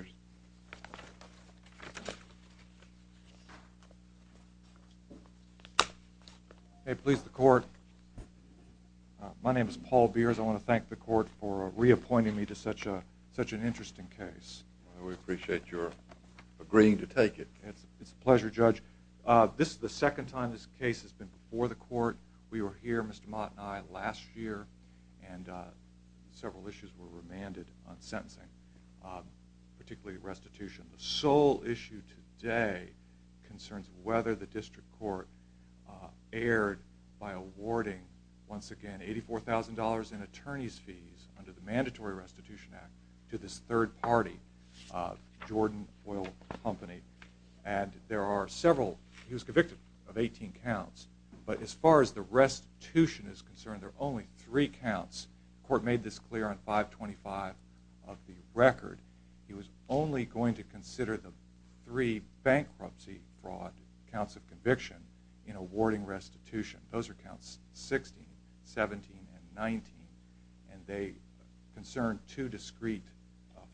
I want to thank the court for reappointing me to such an interesting case. We appreciate your agreeing to take it. It's a pleasure, Judge. This is the second time this case has been before the court. We were here, Mr. Mott and I, last year. And several issues were remanded on sentencing, particularly restitution. The sole issue today concerns whether the district court erred by awarding, once again, $84,000 in attorney's fees under the Mandatory Restitution Act to this third party, Jordan Oil Company. And there are several, he was convicted of 18 counts. But as far as the restitution is concerned, there are only three counts. The court made this clear on 525 of the record. He was only going to consider the three bankruptcy fraud counts of conviction in awarding restitution. Those are counts 16, 17, and 19. And they concern two discrete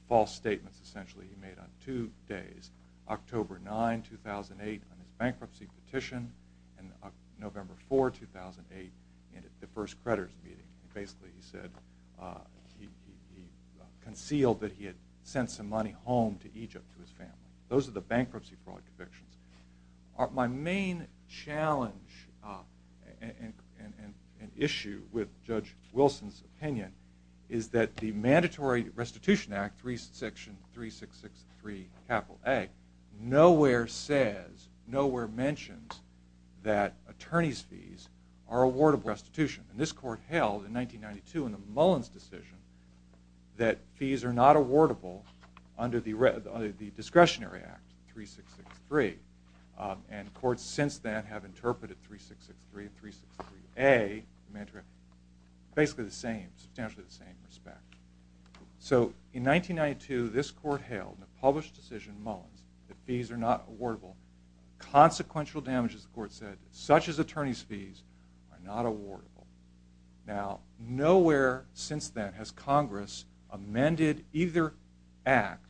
false statements, essentially, he made on two days. October 9, 2008, on his bankruptcy petition, and November 4, 2008, at the first creditors' meeting. Basically, he said he concealed that he had sent some money home to Egypt to his family. Those are the bankruptcy fraud convictions. My main challenge and issue with Judge Wilson's opinion is that the Mandatory Restitution Act, section 3663, capital A, nowhere says, nowhere mentions that attorney's fees are awardable restitution. And this court held in 1992 in the Mullins decision that fees are not awardable under the discretionary act, 3663. And courts since then have interpreted 3663, 363A, basically the same, substantially the same respect. So in 1992, this court held in a published decision in Mullins that fees are not awardable. Consequential damages, the court said, such as attorney's fees, are not awardable. Now, nowhere since then has Congress amended either act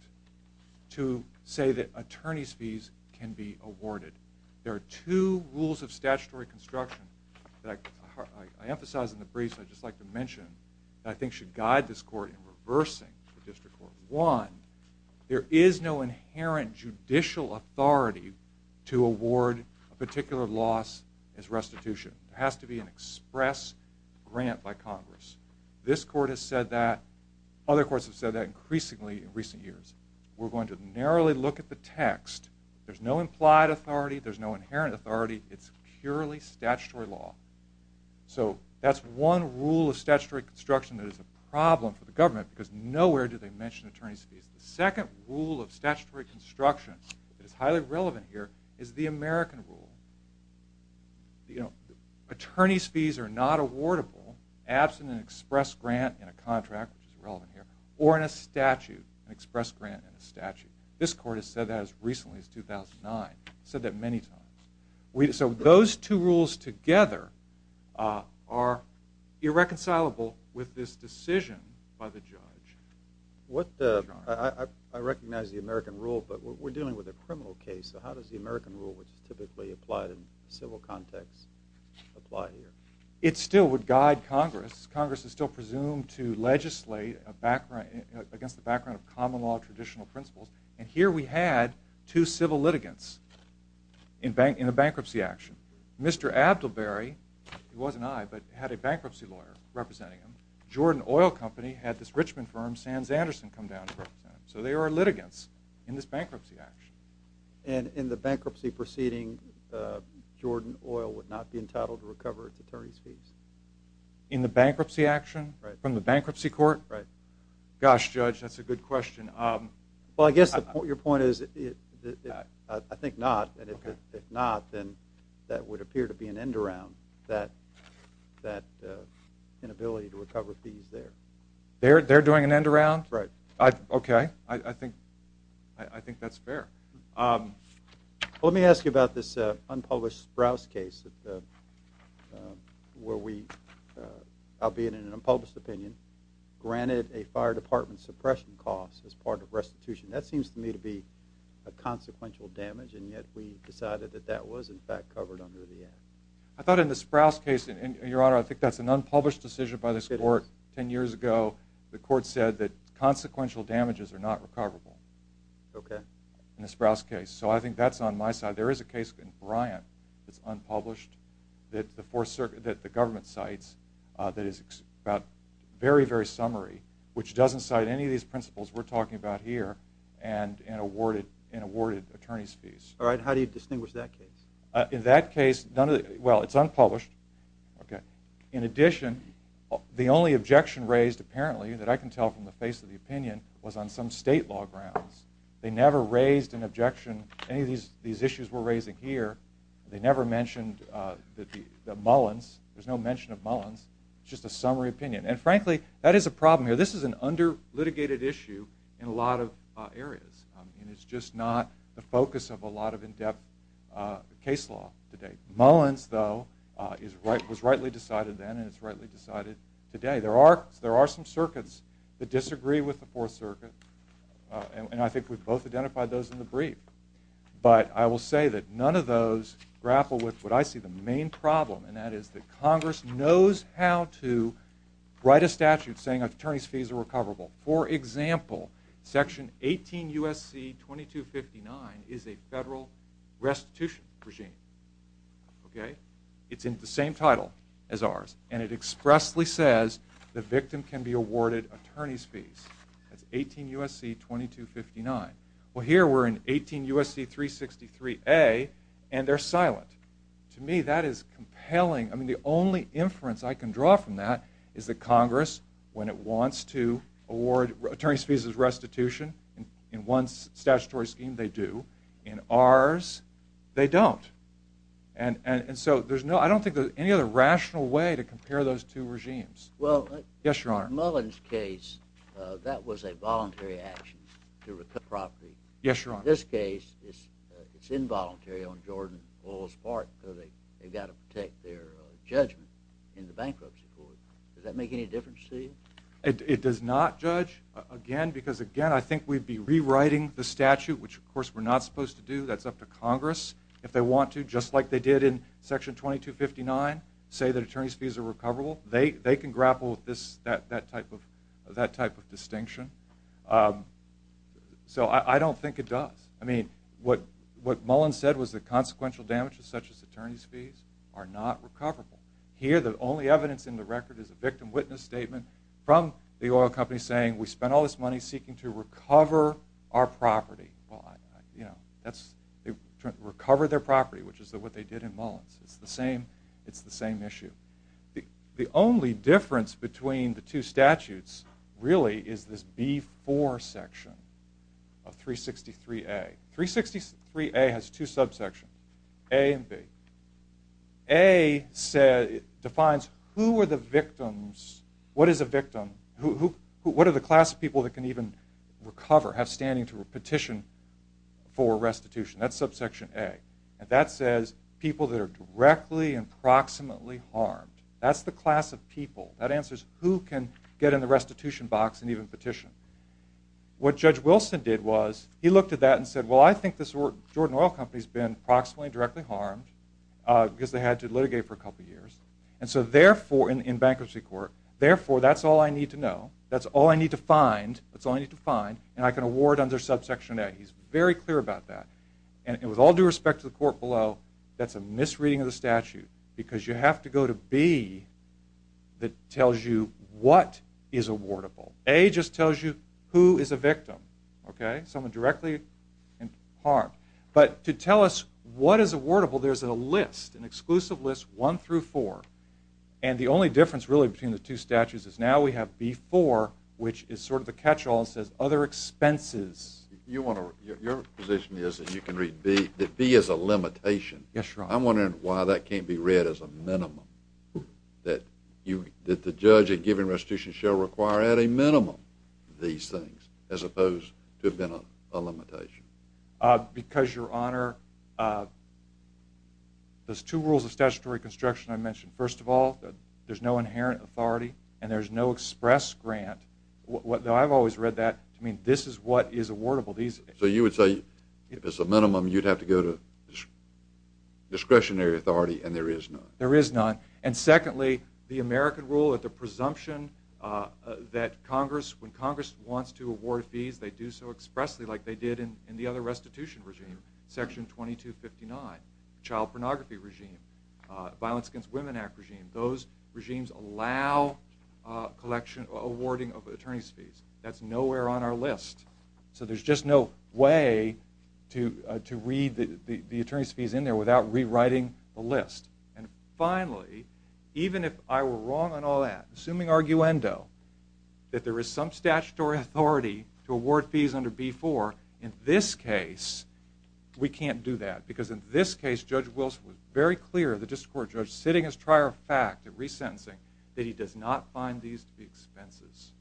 to say that attorney's fees can be awarded. There are two rules of statutory construction that I emphasize in the briefs that I'd just like to mention that I think should guide this court in reversing the district court. One, there is no inherent judicial authority to award a particular loss as restitution. It has to be an express grant by Congress. This court has said that. Other courts have said that increasingly in recent years. We're going to narrowly look at the text. There's no implied authority. There's no inherent authority. It's purely statutory law. So that's one rule of statutory construction that is a problem for the government because nowhere do they mention attorney's fees. The second rule of statutory construction that is highly relevant here is the American rule. Attorney's fees are not awardable absent an express grant in a contract, which is relevant here, or in a statute, an express grant in a statute. This court has said that as recently as 2009. It's said that many times. So those two rules together are irreconcilable with this decision by the judge. I recognize the American rule, but we're dealing with a criminal case. So how does the American rule, which is typically applied in civil context, apply here? It still would guide Congress. Congress is still presumed to legislate against the background of common law traditional principles. And here we had two civil litigants in a bankruptcy action. Mr. Abdelberry, it wasn't I, but had a bankruptcy lawyer representing him. Jordan Oil Company had this Richmond firm, Sands Anderson, come down to represent him. So there are litigants in this bankruptcy action. And in the bankruptcy proceeding, Jordan Oil would not be entitled to recover its attorney's fees? In the bankruptcy action? Right. From the bankruptcy court? Right. Gosh, Judge, that's a good question. Well, I guess your point is, I think not. And if not, then that would appear to be an end-around, that inability to recover fees there. They're doing an end-around? Right. Okay. I think that's fair. Let me ask you about this unpublished Sprouse case where we, albeit in an unpublished opinion, granted a fire department suppression cost as part of restitution. That seems to me to be a consequential damage, and yet we decided that that was, in fact, covered under the act. I thought in the Sprouse case, and, Your Honor, I think that's an unpublished decision by this court. Ten years ago, the court said that consequential damages are not recoverable in the Sprouse case. So I think that's on my side. There is a case in Bryant that's unpublished that the government cites that is about very, very summary, which doesn't cite any of these principles we're talking about here, and awarded attorney's fees. All right. How do you distinguish that case? In that case, well, it's unpublished. In addition, the only objection raised, apparently, that I can tell from the face of the opinion, was on some state law grounds. They never raised an objection to any of these issues we're raising here. They never mentioned the Mullins. There's no mention of Mullins. It's just a summary opinion, and, frankly, that is a problem here. This is an under-litigated issue in a lot of areas, and it's just not the focus of a lot of in-depth case law today. Mullins, though, was rightly decided then, and it's rightly decided today. There are some circuits that disagree with the Fourth Circuit, and I think we've both identified those in the brief, but I will say that none of those grapple with what I see the main problem, and that is that Congress knows how to write a statute saying attorney's fees are recoverable. For example, Section 18 U.S.C. 2259 is a federal restitution regime. It's in the same title as ours, and it expressly says the victim can be awarded attorney's fees. That's 18 U.S.C. 2259. Well, here we're in 18 U.S.C. 363A, and they're silent. To me, that is compelling. I mean, the only inference I can draw from that is that Congress, when it wants to award attorney's fees as restitution, in one statutory scheme, they do. In ours, they don't. And so I don't think there's any other rational way to compare those two regimes. Yes, Your Honor. In Mullins' case, that was a voluntary action to recover property. Yes, Your Honor. In this case, it's involuntary on Jordan Oil's part, so they've got to protect their judgment in the bankruptcy court. Does that make any difference to you? It does not, Judge, again, because, again, I think we'd be rewriting the statute, which, of course, we're not supposed to do. That's up to Congress. If they want to, just like they did in Section 2259, say that attorney's fees are recoverable, they can grapple with that type of distinction. So I don't think it does. I mean, what Mullins said was that consequential damages such as attorney's fees are not recoverable. Here, the only evidence in the record is a victim witness statement from the oil company saying, we spent all this money seeking to recover our property. They recovered their property, which is what they did in Mullins. It's the same issue. The only difference between the two statutes really is this B4 section of 363A. 363A has two subsections, A and B. A defines who are the victims, what is a victim, what are the class of people that can even recover, have standing to petition for restitution. That's subsection A. That says people that are directly and proximately harmed. That's the class of people. That answers who can get in the restitution box and even petition. What Judge Wilson did was he looked at that and said, well, I think this Jordan Oil Company has been proximately and directly harmed because they had to litigate for a couple of years in bankruptcy court. Therefore, that's all I need to know. That's all I need to find. And I can award under subsection A. He's very clear about that. And with all due respect to the court below, that's a misreading of the statute because you have to go to B that tells you what is awardable. A just tells you who is a victim. Okay? Someone directly harmed. But to tell us what is awardable, there's a list, an exclusive list, one through four. And the only difference really between the two statutes is now we have B4, which is sort of the catch-all and says other expenses. Your position is that you can read B, that B is a limitation. Yes, Your Honor. I'm wondering why that can't be read as a minimum, that the judge in giving restitution shall require at a minimum these things as opposed to have been a limitation. Because, Your Honor, there's two rules of statutory construction I mentioned. First of all, there's no inherent authority and there's no express grant. I've always read that to mean this is what is awardable. So you would say if it's a minimum, you'd have to go to discretionary authority, and there is none. There is none. And secondly, the American rule that the presumption that Congress, when Congress wants to award fees, they do so expressly like they did in the other restitution regime, Section 2259, child pornography regime, Violence Against Women Act regime. Those regimes allow awarding of attorney's fees. That's nowhere on our list. So there's just no way to read the attorney's fees in there without rewriting the list. And finally, even if I were wrong on all that, assuming arguendo, that there is some statutory authority to award fees under B-4, in this case, we can't do that. Because in this case, Judge Wilson was very clear, the district court judge, sitting as trier of fact in resentencing, that he does not find these to be expenses.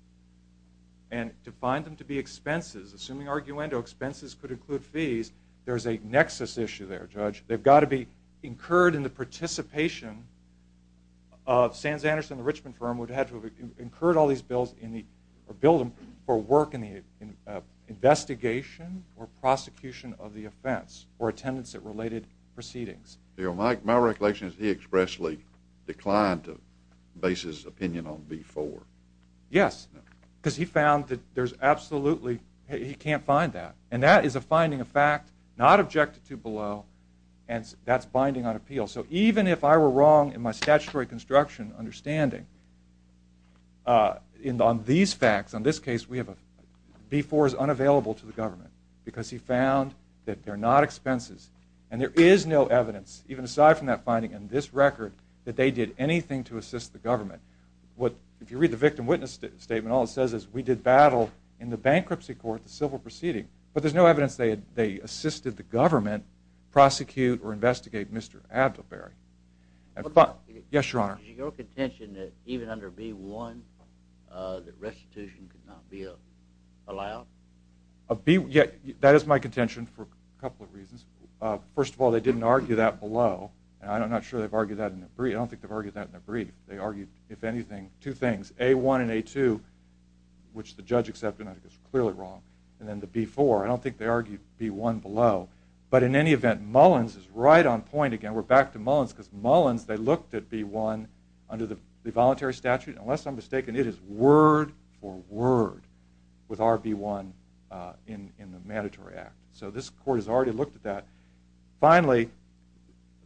And to find them to be expenses, assuming arguendo, expenses could include fees, there's a nexus issue there, Judge. They've got to be incurred in the participation of Sands Anderson, the Richmond firm, would have to have incurred all these bills or billed them for work in the investigation or prosecution of the offense or attendance at related proceedings. My recollection is he expressly declined to base his opinion on B-4. Yes, because he found that there's absolutely, he can't find that. And that is a finding of fact not objected to below, and that's binding on appeal. So even if I were wrong in my statutory construction understanding, on these facts, on this case, B-4 is unavailable to the government because he found that they're not expenses. And there is no evidence, even aside from that finding in this record, that they did anything to assist the government. If you read the victim witness statement, all it says is we did battle in the bankruptcy court the civil proceeding. But there's no evidence they assisted the government prosecute or investigate Mr. Abdelberry. Yes, Your Honor. Is your contention that even under B-1 that restitution could not be allowed? That is my contention for a couple of reasons. First of all, they didn't argue that below. I'm not sure they've argued that in a brief. I don't think they've argued that in a brief. They argued, if anything, two things. A-1 and A-2, which the judge accepted and I think is clearly wrong, and then the B-4. I don't think they argued B-1 below. But in any event, Mullins is right on point again. We're back to Mullins because Mullins, they looked at B-1 under the voluntary statute. Unless I'm mistaken, it is word for word with our B-1 in the Mandatory Act. So this court has already looked at that. Finally,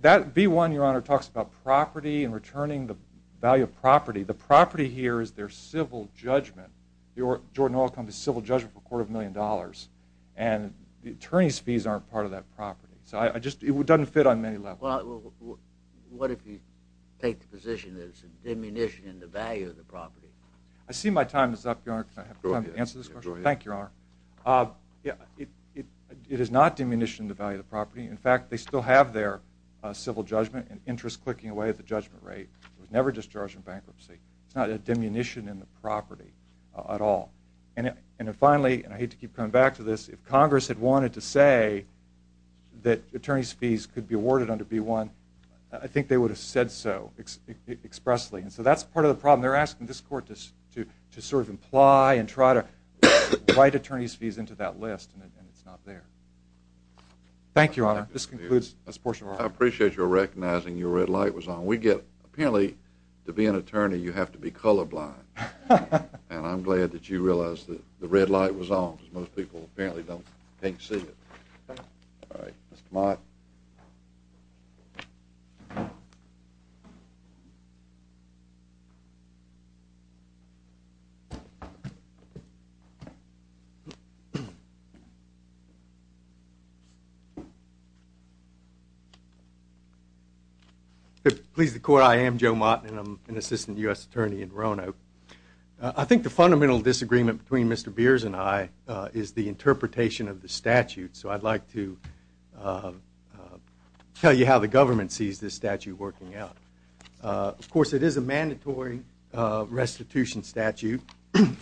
that B-1, Your Honor, talks about property and returning the value of property. The property here is their civil judgment. Jordan Oil Company's civil judgment for a quarter of a million dollars, and the attorney's fees aren't part of that property. So it doesn't fit on many levels. Well, what if you take the position that it's a diminution in the value of the property? I see my time is up, Your Honor. Can I have time to answer this question? Go ahead. Thank you, Your Honor. It is not diminution in the value of the property. In fact, they still have their civil judgment and interest clicking away at the judgment rate. It was never discharged from bankruptcy. It's not a diminution in the property at all. And finally, and I hate to keep coming back to this, if Congress had wanted to say that attorney's fees could be awarded under B-1, I think they would have said so expressly. And so that's part of the problem. They're asking this court to sort of imply and try to write attorney's fees into that list, and it's not there. Thank you, Your Honor. This concludes this portion of our hour. I appreciate your recognizing your red light was on. We get apparently to be an attorney you have to be colorblind, and I'm glad that you realized that the red light was on because most people apparently don't think, see it. All right. Mr. Mott. Please be seated. Please, the court, I am Joe Mott, and I'm an assistant U.S. attorney in Roanoke. I think the fundamental disagreement between Mr. Beers and I is the interpretation of the statute. So I'd like to tell you how the government sees this statute working out. Of course, it is a mandatory restitution statute,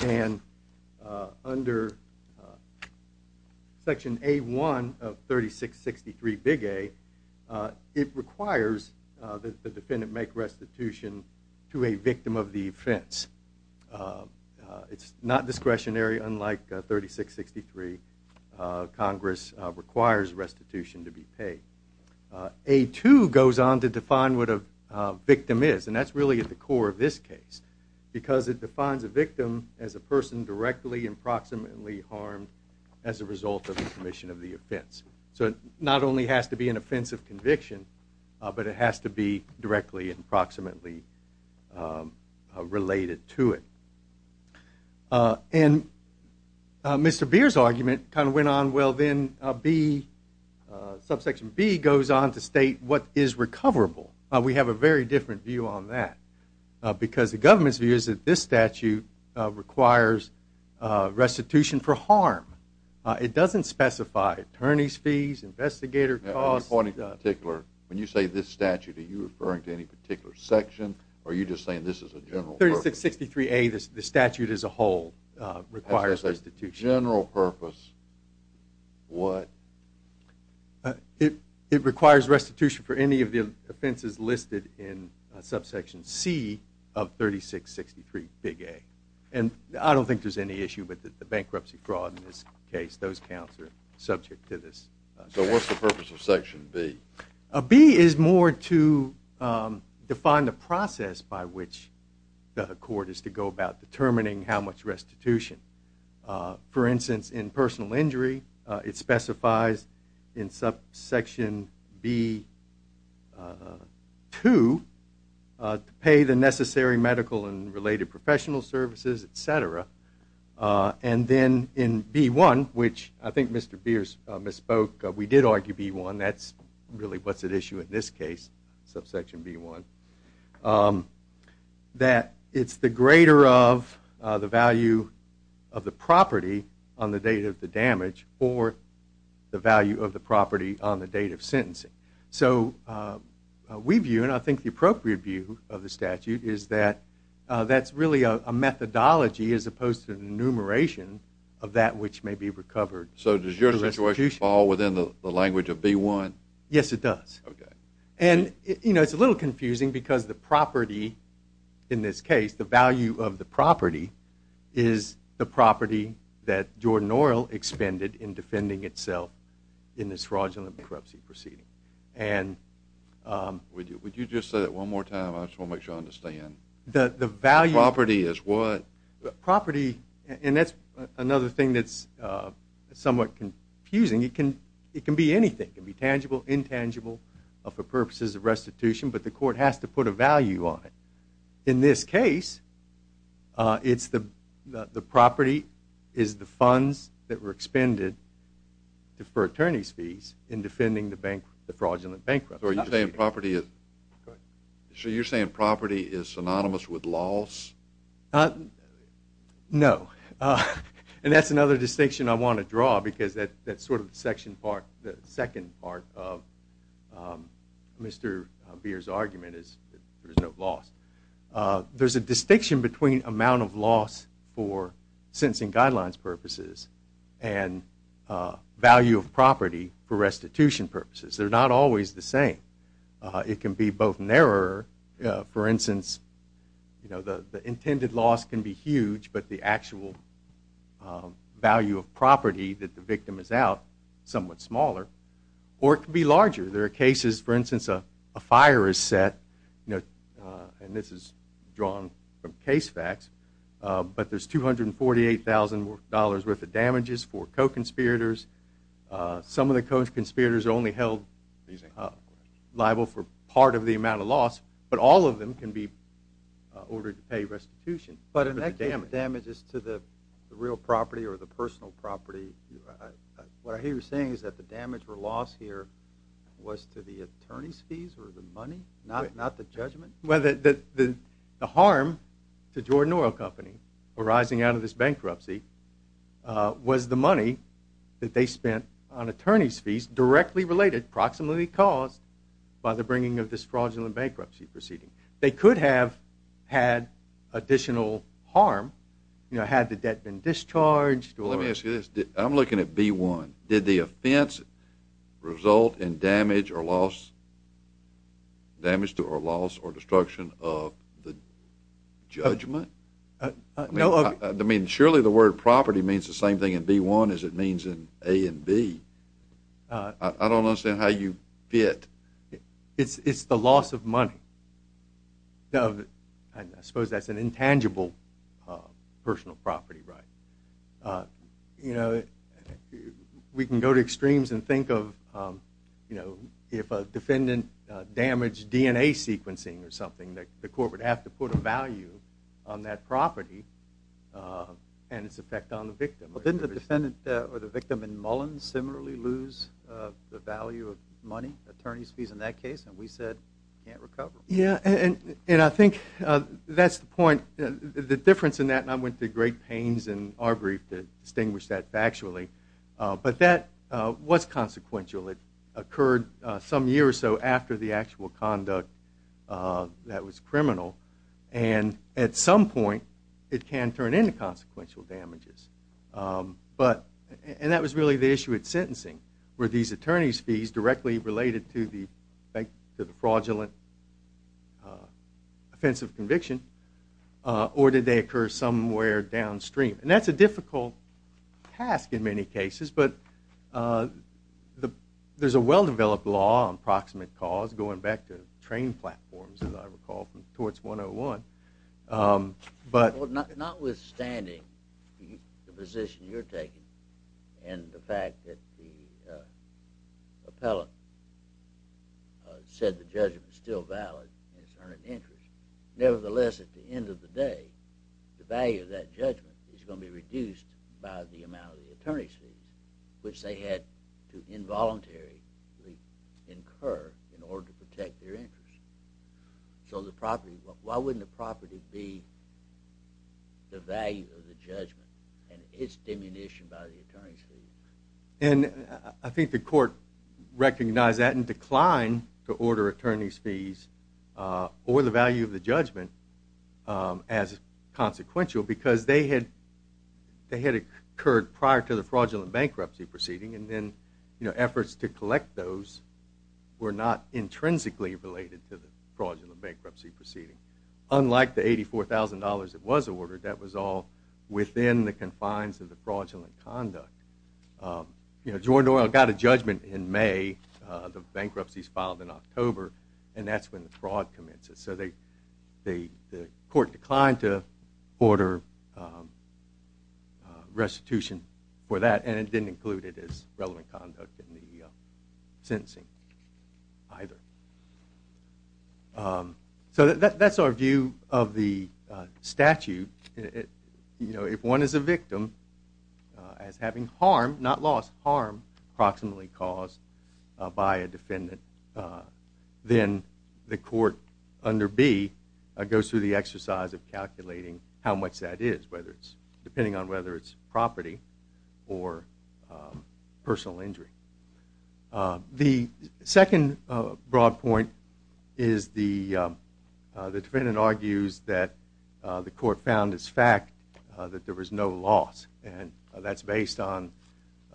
and under Section A-1 of 3663 Big A, it requires that the defendant make restitution to a victim of the offense. It's not discretionary, unlike 3663. Congress requires restitution to be paid. A-2 goes on to define what a victim is, and that's really at the core of this case because it defines a victim as a person directly and proximately harmed as a result of the commission of the offense. So it not only has to be an offensive conviction, but it has to be directly and proximately related to it. And Mr. Beers' argument kind of went on, well, then B, Subsection B goes on to state what is recoverable. We have a very different view on that because the government's view is that this statute requires restitution for harm. It doesn't specify attorney's fees, investigator costs. When you say this statute, are you referring to any particular section, or are you just saying this is a general purpose? 3663-A, the statute as a whole, requires restitution. As a general purpose, what? It requires restitution for any of the offenses listed in Subsection C of 3663 Big A. And I don't think there's any issue with the bankruptcy fraud in this case. Those counts are subject to this. So what's the purpose of Section B? B is more to define the process by which the court is to go about determining how much restitution. For instance, in personal injury, it specifies in Subsection B-2 to pay the necessary medical and related professional services, et cetera. And then in B-1, which I think Mr. Beers misspoke. We did argue B-1. That's really what's at issue in this case, Subsection B-1, that it's the greater of the value of the property on the date of the damage or the value of the property on the date of sentencing. So we view, and I think the appropriate view of the statute, is that that's really a methodology as opposed to an enumeration of that which may be recovered. So does your situation fall within the language of B-1? Yes, it does. And it's a little confusing because the property in this case, the value of the property, is the property that Jordan Oil expended in defending itself in this fraudulent bankruptcy proceeding. Would you just say that one more time? I just want to make sure I understand. Property is what? Property, and that's another thing that's somewhat confusing. It can be anything. It can be tangible, intangible for purposes of restitution, but the court has to put a value on it. In this case, the property is the funds that were expended for attorney's fees in defending the fraudulent bankruptcy proceeding. So you're saying property is synonymous with loss? No, and that's another distinction I want to draw because that's sort of the second part of Mr. Beer's argument is there's no loss. There's a distinction between amount of loss for sentencing guidelines purposes and value of property for restitution purposes. They're not always the same. It can be both narrower. For instance, the intended loss can be huge, but the actual value of property that the victim is out is somewhat smaller. Or it can be larger. There are cases, for instance, a fire is set, and this is drawn from case facts, but there's $248,000 worth of damages for co-conspirators. Some of the co-conspirators are only held liable for part of the amount of loss, but all of them can be ordered to pay restitution. But in that case, the damage is to the real property or the personal property. What I hear you saying is that the damage or loss here was to the attorney's fees or the money, not the judgment? Well, the harm to Jordan Oil Company arising out of this bankruptcy was the money that they spent on attorney's fees directly related, approximately caused by the bringing of this fraudulent bankruptcy proceeding. They could have had additional harm had the debt been discharged. Let me ask you this. I'm looking at B-1. Did the offense result in damage or loss or destruction of the judgment? Surely the word property means the same thing in B-1 as it means in A and B. I don't understand how you fit. It's the loss of money. I suppose that's an intangible personal property right. You know, we can go to extremes and think of, you know, if a defendant damaged DNA sequencing or something, the court would have to put a value on that property and its effect on the victim. Didn't the defendant or the victim in Mullins similarly lose the value of money, attorney's fees in that case? And we said you can't recover them. Yeah, and I think that's the point. The difference in that, and I went through great pains in our brief to distinguish that factually, but that was consequential. It occurred some year or so after the actual conduct that was criminal, and at some point it can turn into consequential damages. And that was really the issue at sentencing, were these attorney's fees directly related to the fraudulent offensive conviction or did they occur somewhere downstream? And that's a difficult task in many cases, but there's a well-developed law on proximate cause going back to train platforms, as I recall, from torts 101. Well, notwithstanding the position you're taking and the fact that the appellant said the judgment's still valid and it's earned an interest, nevertheless, at the end of the day, the value of that judgment is going to be reduced by the amount of the attorney's fees, which they had to involuntarily incur in order to protect their interest. So why wouldn't the property be the value of the judgment and its diminution by the attorney's fees? And I think the court recognized that and declined to order attorney's fees or the value of the judgment as consequential because they had occurred prior to the fraudulent bankruptcy proceeding, and then efforts to collect those were not intrinsically related to the fraudulent bankruptcy proceeding. Unlike the $84,000 that was ordered, that was all within the confines of the fraudulent conduct. Jordan Oil got a judgment in May. The bankruptcy's filed in October, and that's when the fraud commences. So the court declined to order restitution for that, and it didn't include it as relevant conduct in the sentencing either. So that's our view of the statute. If one is a victim as having harm, not loss, harm approximately caused by a defendant, then the court under B goes through the exercise of calculating how much that is, depending on whether it's property or personal injury. The second broad point is the defendant argues that the court found as fact that there was no loss, and that's based on,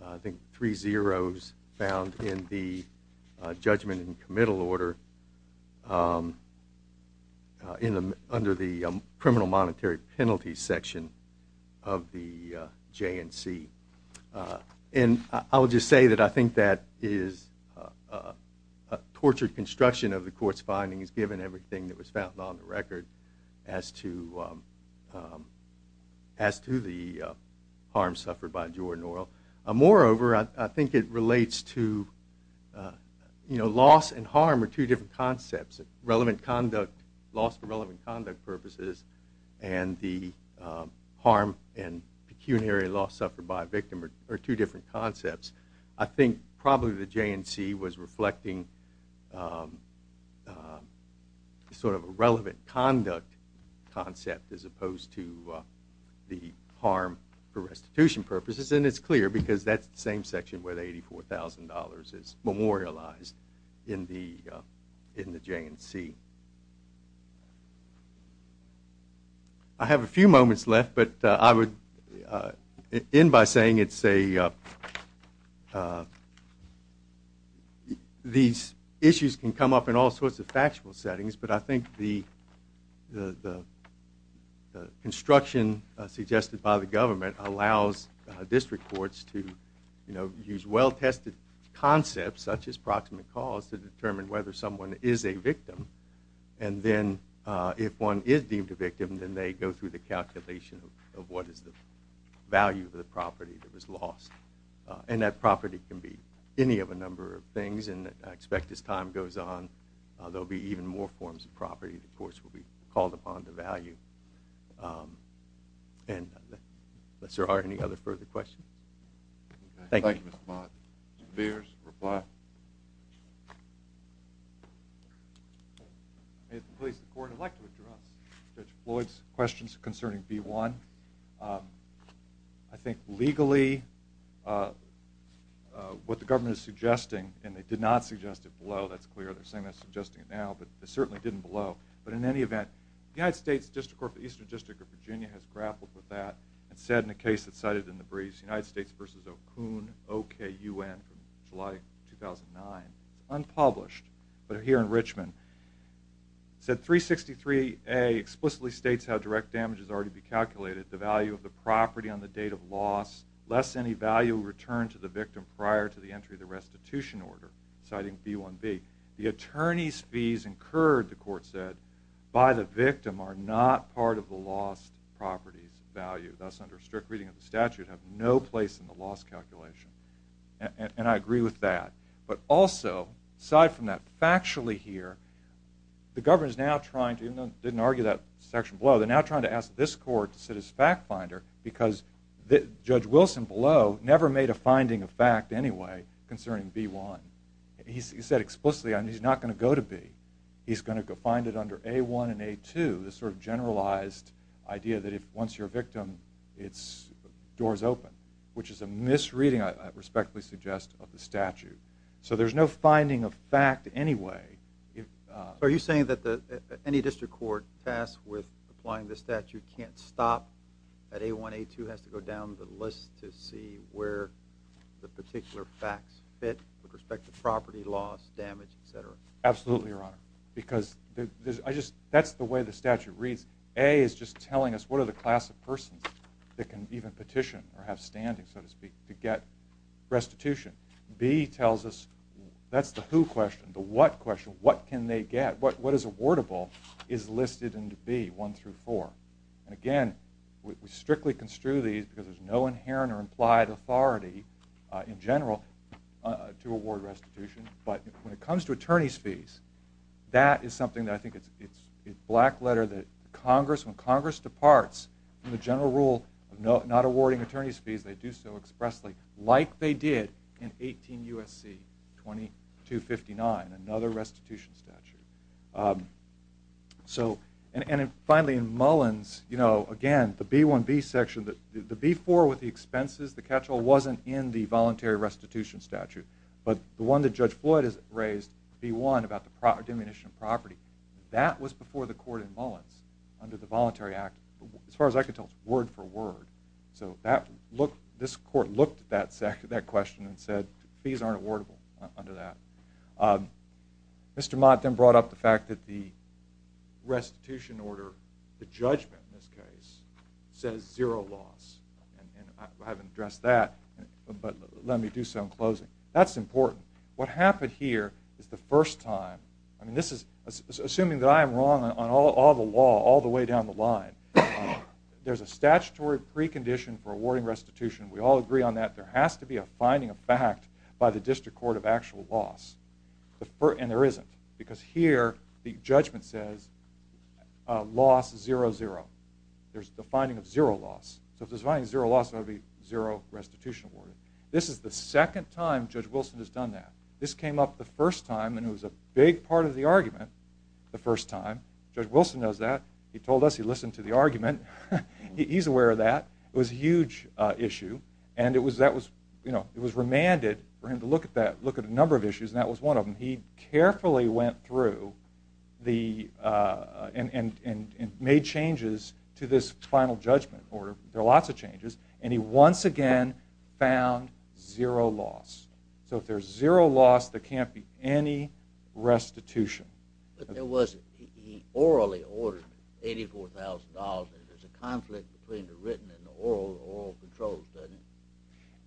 I think, three zeros found in the judgment and committal order under the criminal monetary penalty section of the J&C. And I will just say that I think that is a tortured construction of the court's findings, given everything that was found on the record as to the harm suffered by Jordan Oil. Moreover, I think it relates to loss and harm are two different concepts. Relevant conduct, loss for relevant conduct purposes, and the harm and pecuniary loss suffered by a victim are two different concepts. I think probably the J&C was reflecting sort of a relevant conduct concept as opposed to the harm for restitution purposes, and it's clear because that's the same section where the $84,000 is memorialized in the J&C. I have a few moments left, but I would end by saying these issues can come up in all sorts of factual settings, but I think the construction suggested by the government allows district courts to use well-tested concepts, such as proximate cause, to determine whether someone is a victim. And then if one is deemed a victim, then they go through the calculation of what is the value of the property that was lost. And I expect as time goes on, there will be even more forms of property that, of course, will be called upon to value. And unless there are any other further questions. Thank you. Thank you, Mr. Mott. Mr. Beers, reply. If it pleases the court, I'd like to address Judge Floyd's questions concerning B-1. I think legally what the government is suggesting, and they did not suggest it below, that's clear. They're saying they're suggesting it now, but they certainly didn't below. But in any event, the United States District Court for the Eastern District of Virginia has grappled with that and said in a case that's cited in the briefs, United States v. Okun, O-K-U-N, from July 2009. It's unpublished, but here in Richmond. It said 363A explicitly states how direct damage has already been calculated, the value of the property on the date of loss, less any value returned to the victim prior to the entry of the restitution order, citing B-1B. The attorney's fees incurred, the court said, by the victim are not part of the lost property's value. Thus, under strict reading of the statute, have no place in the loss calculation. And I agree with that. But also, aside from that factually here, the government is now trying to, even though it didn't argue that section below, they're now trying to ask this court to sit as fact finder because Judge Wilson below never made a finding of fact anyway concerning B-1. He said explicitly he's not going to go to B. He's going to find it under A-1 and A-2, this sort of generalized idea that once you're a victim, it's doors open, which is a misreading, I respectfully suggest, of the statute. So there's no finding of fact anyway. So are you saying that any district court tasked with applying the statute can't stop at A-1, A-2, has to go down the list to see where the particular facts fit with respect to property loss, damage, et cetera? Absolutely, Your Honor, because that's the way the statute reads. A is just telling us what are the class of persons that can even petition or have standing, so to speak, to get restitution. B tells us that's the who question, the what question. What can they get? What is awardable is listed in B, 1 through 4. And again, we strictly construe these because there's no inherent or implied authority in general to award restitution. But when it comes to attorney's fees, that is something that I think is a black letter that Congress, when Congress departs from the general rule of not awarding attorney's fees, they do so expressly, like they did in 18 U.S.C. 2259, another restitution statute. And finally, in Mullins, again, the B-1B section, the B-4 with the expenses, the catch-all wasn't in the voluntary restitution statute. But the one that Judge Floyd has raised, B-1, about the diminution of property, that was before the court in Mullins under the Voluntary Act. As far as I can tell, it's word for word. So this court looked at that question and said fees aren't awardable under that. Mr. Mott then brought up the fact that the restitution order, the judgment in this case, says zero loss. I haven't addressed that, but let me do so in closing. That's important. What happened here is the first time. Assuming that I am wrong on all the law all the way down the line, there's a statutory precondition for awarding restitution. We all agree on that. There has to be a finding of fact by the District Court of actual loss. And there isn't, because here the judgment says loss, zero, zero. There's the finding of zero loss. So if there's a finding of zero loss, there ought to be zero restitution awarded. This is the second time Judge Wilson has done that. This came up the first time, and it was a big part of the argument the first time. Judge Wilson knows that. He told us he listened to the argument. He's aware of that. It was a huge issue, and it was remanded for him to look at a number of issues, and that was one of them. And he carefully went through and made changes to this final judgment order. There are lots of changes. And he once again found zero loss. So if there's zero loss, there can't be any restitution. But there was. He orally awarded $84,000, and there's a conflict between the written and the oral controls, doesn't it?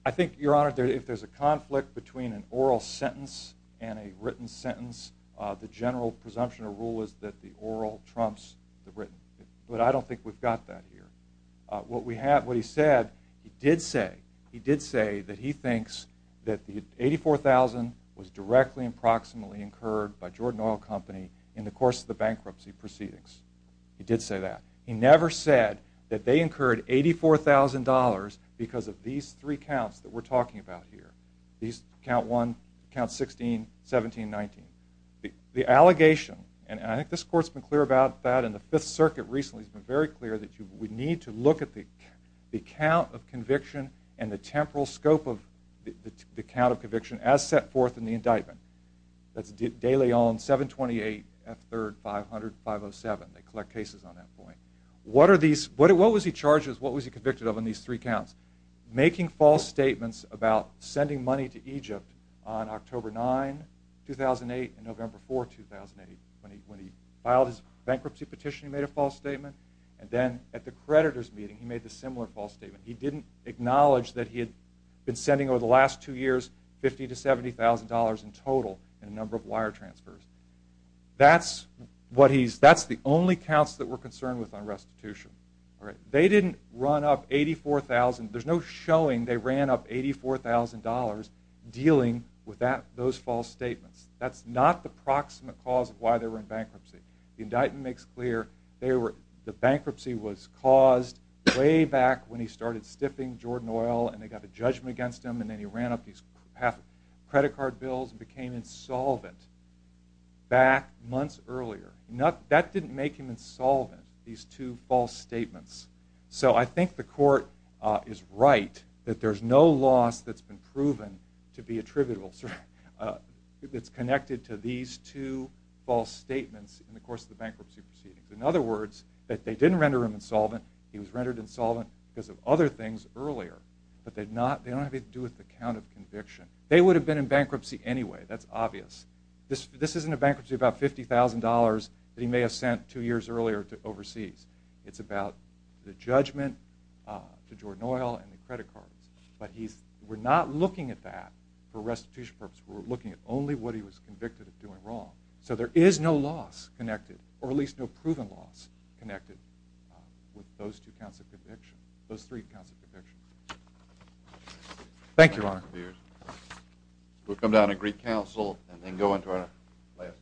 I think, Your Honor, if there's a conflict between an oral sentence and a written sentence, the general presumption or rule is that the oral trumps the written. But I don't think we've got that here. What he said, he did say that he thinks that the $84,000 was directly and proximately incurred by Jordan Oil Company in the course of the bankruptcy proceedings. He did say that. He never said that they incurred $84,000 because of these three counts that we're talking about here. Count one, count 16, 17, 19. The allegation, and I think this Court's been clear about that, and the Fifth Circuit recently has been very clear that we need to look at the count of conviction and the temporal scope of the count of conviction as set forth in the indictment. That's De Leon, 728, F3rd, 500, 507. They collect cases on that point. What was he charged with? What was he convicted of on these three counts? Making false statements about sending money to Egypt on October 9, 2008, and November 4, 2008. When he filed his bankruptcy petition, he made a false statement. And then at the creditors' meeting, he made a similar false statement. He didn't acknowledge that he had been sending over the last two years $50,000 to $70,000 in total in a number of wire transfers. That's the only counts that we're concerned with on restitution. They didn't run up $84,000. There's no showing they ran up $84,000 dealing with those false statements. That's not the proximate cause of why they were in bankruptcy. The indictment makes clear the bankruptcy was caused way back when he started stiffing Jordan Oil, and they got a judgment against him, and then he ran up these half-credit card bills and became insolvent back months earlier. That didn't make him insolvent, these two false statements. So I think the court is right that there's no loss that's been proven to be attributable, that's connected to these two false statements in the course of the bankruptcy proceedings. In other words, they didn't render him insolvent. He was rendered insolvent because of other things earlier, but they don't have anything to do with the count of conviction. They would have been in bankruptcy anyway. That's obvious. This isn't a bankruptcy of about $50,000 that he may have sent two years earlier overseas. It's about the judgment to Jordan Oil and the credit cards. But we're not looking at that for restitution purposes. We're looking at only what he was convicted of doing wrong. So there is no loss connected, or at least no proven loss connected, with those three counts of conviction. Thank you, Your Honor.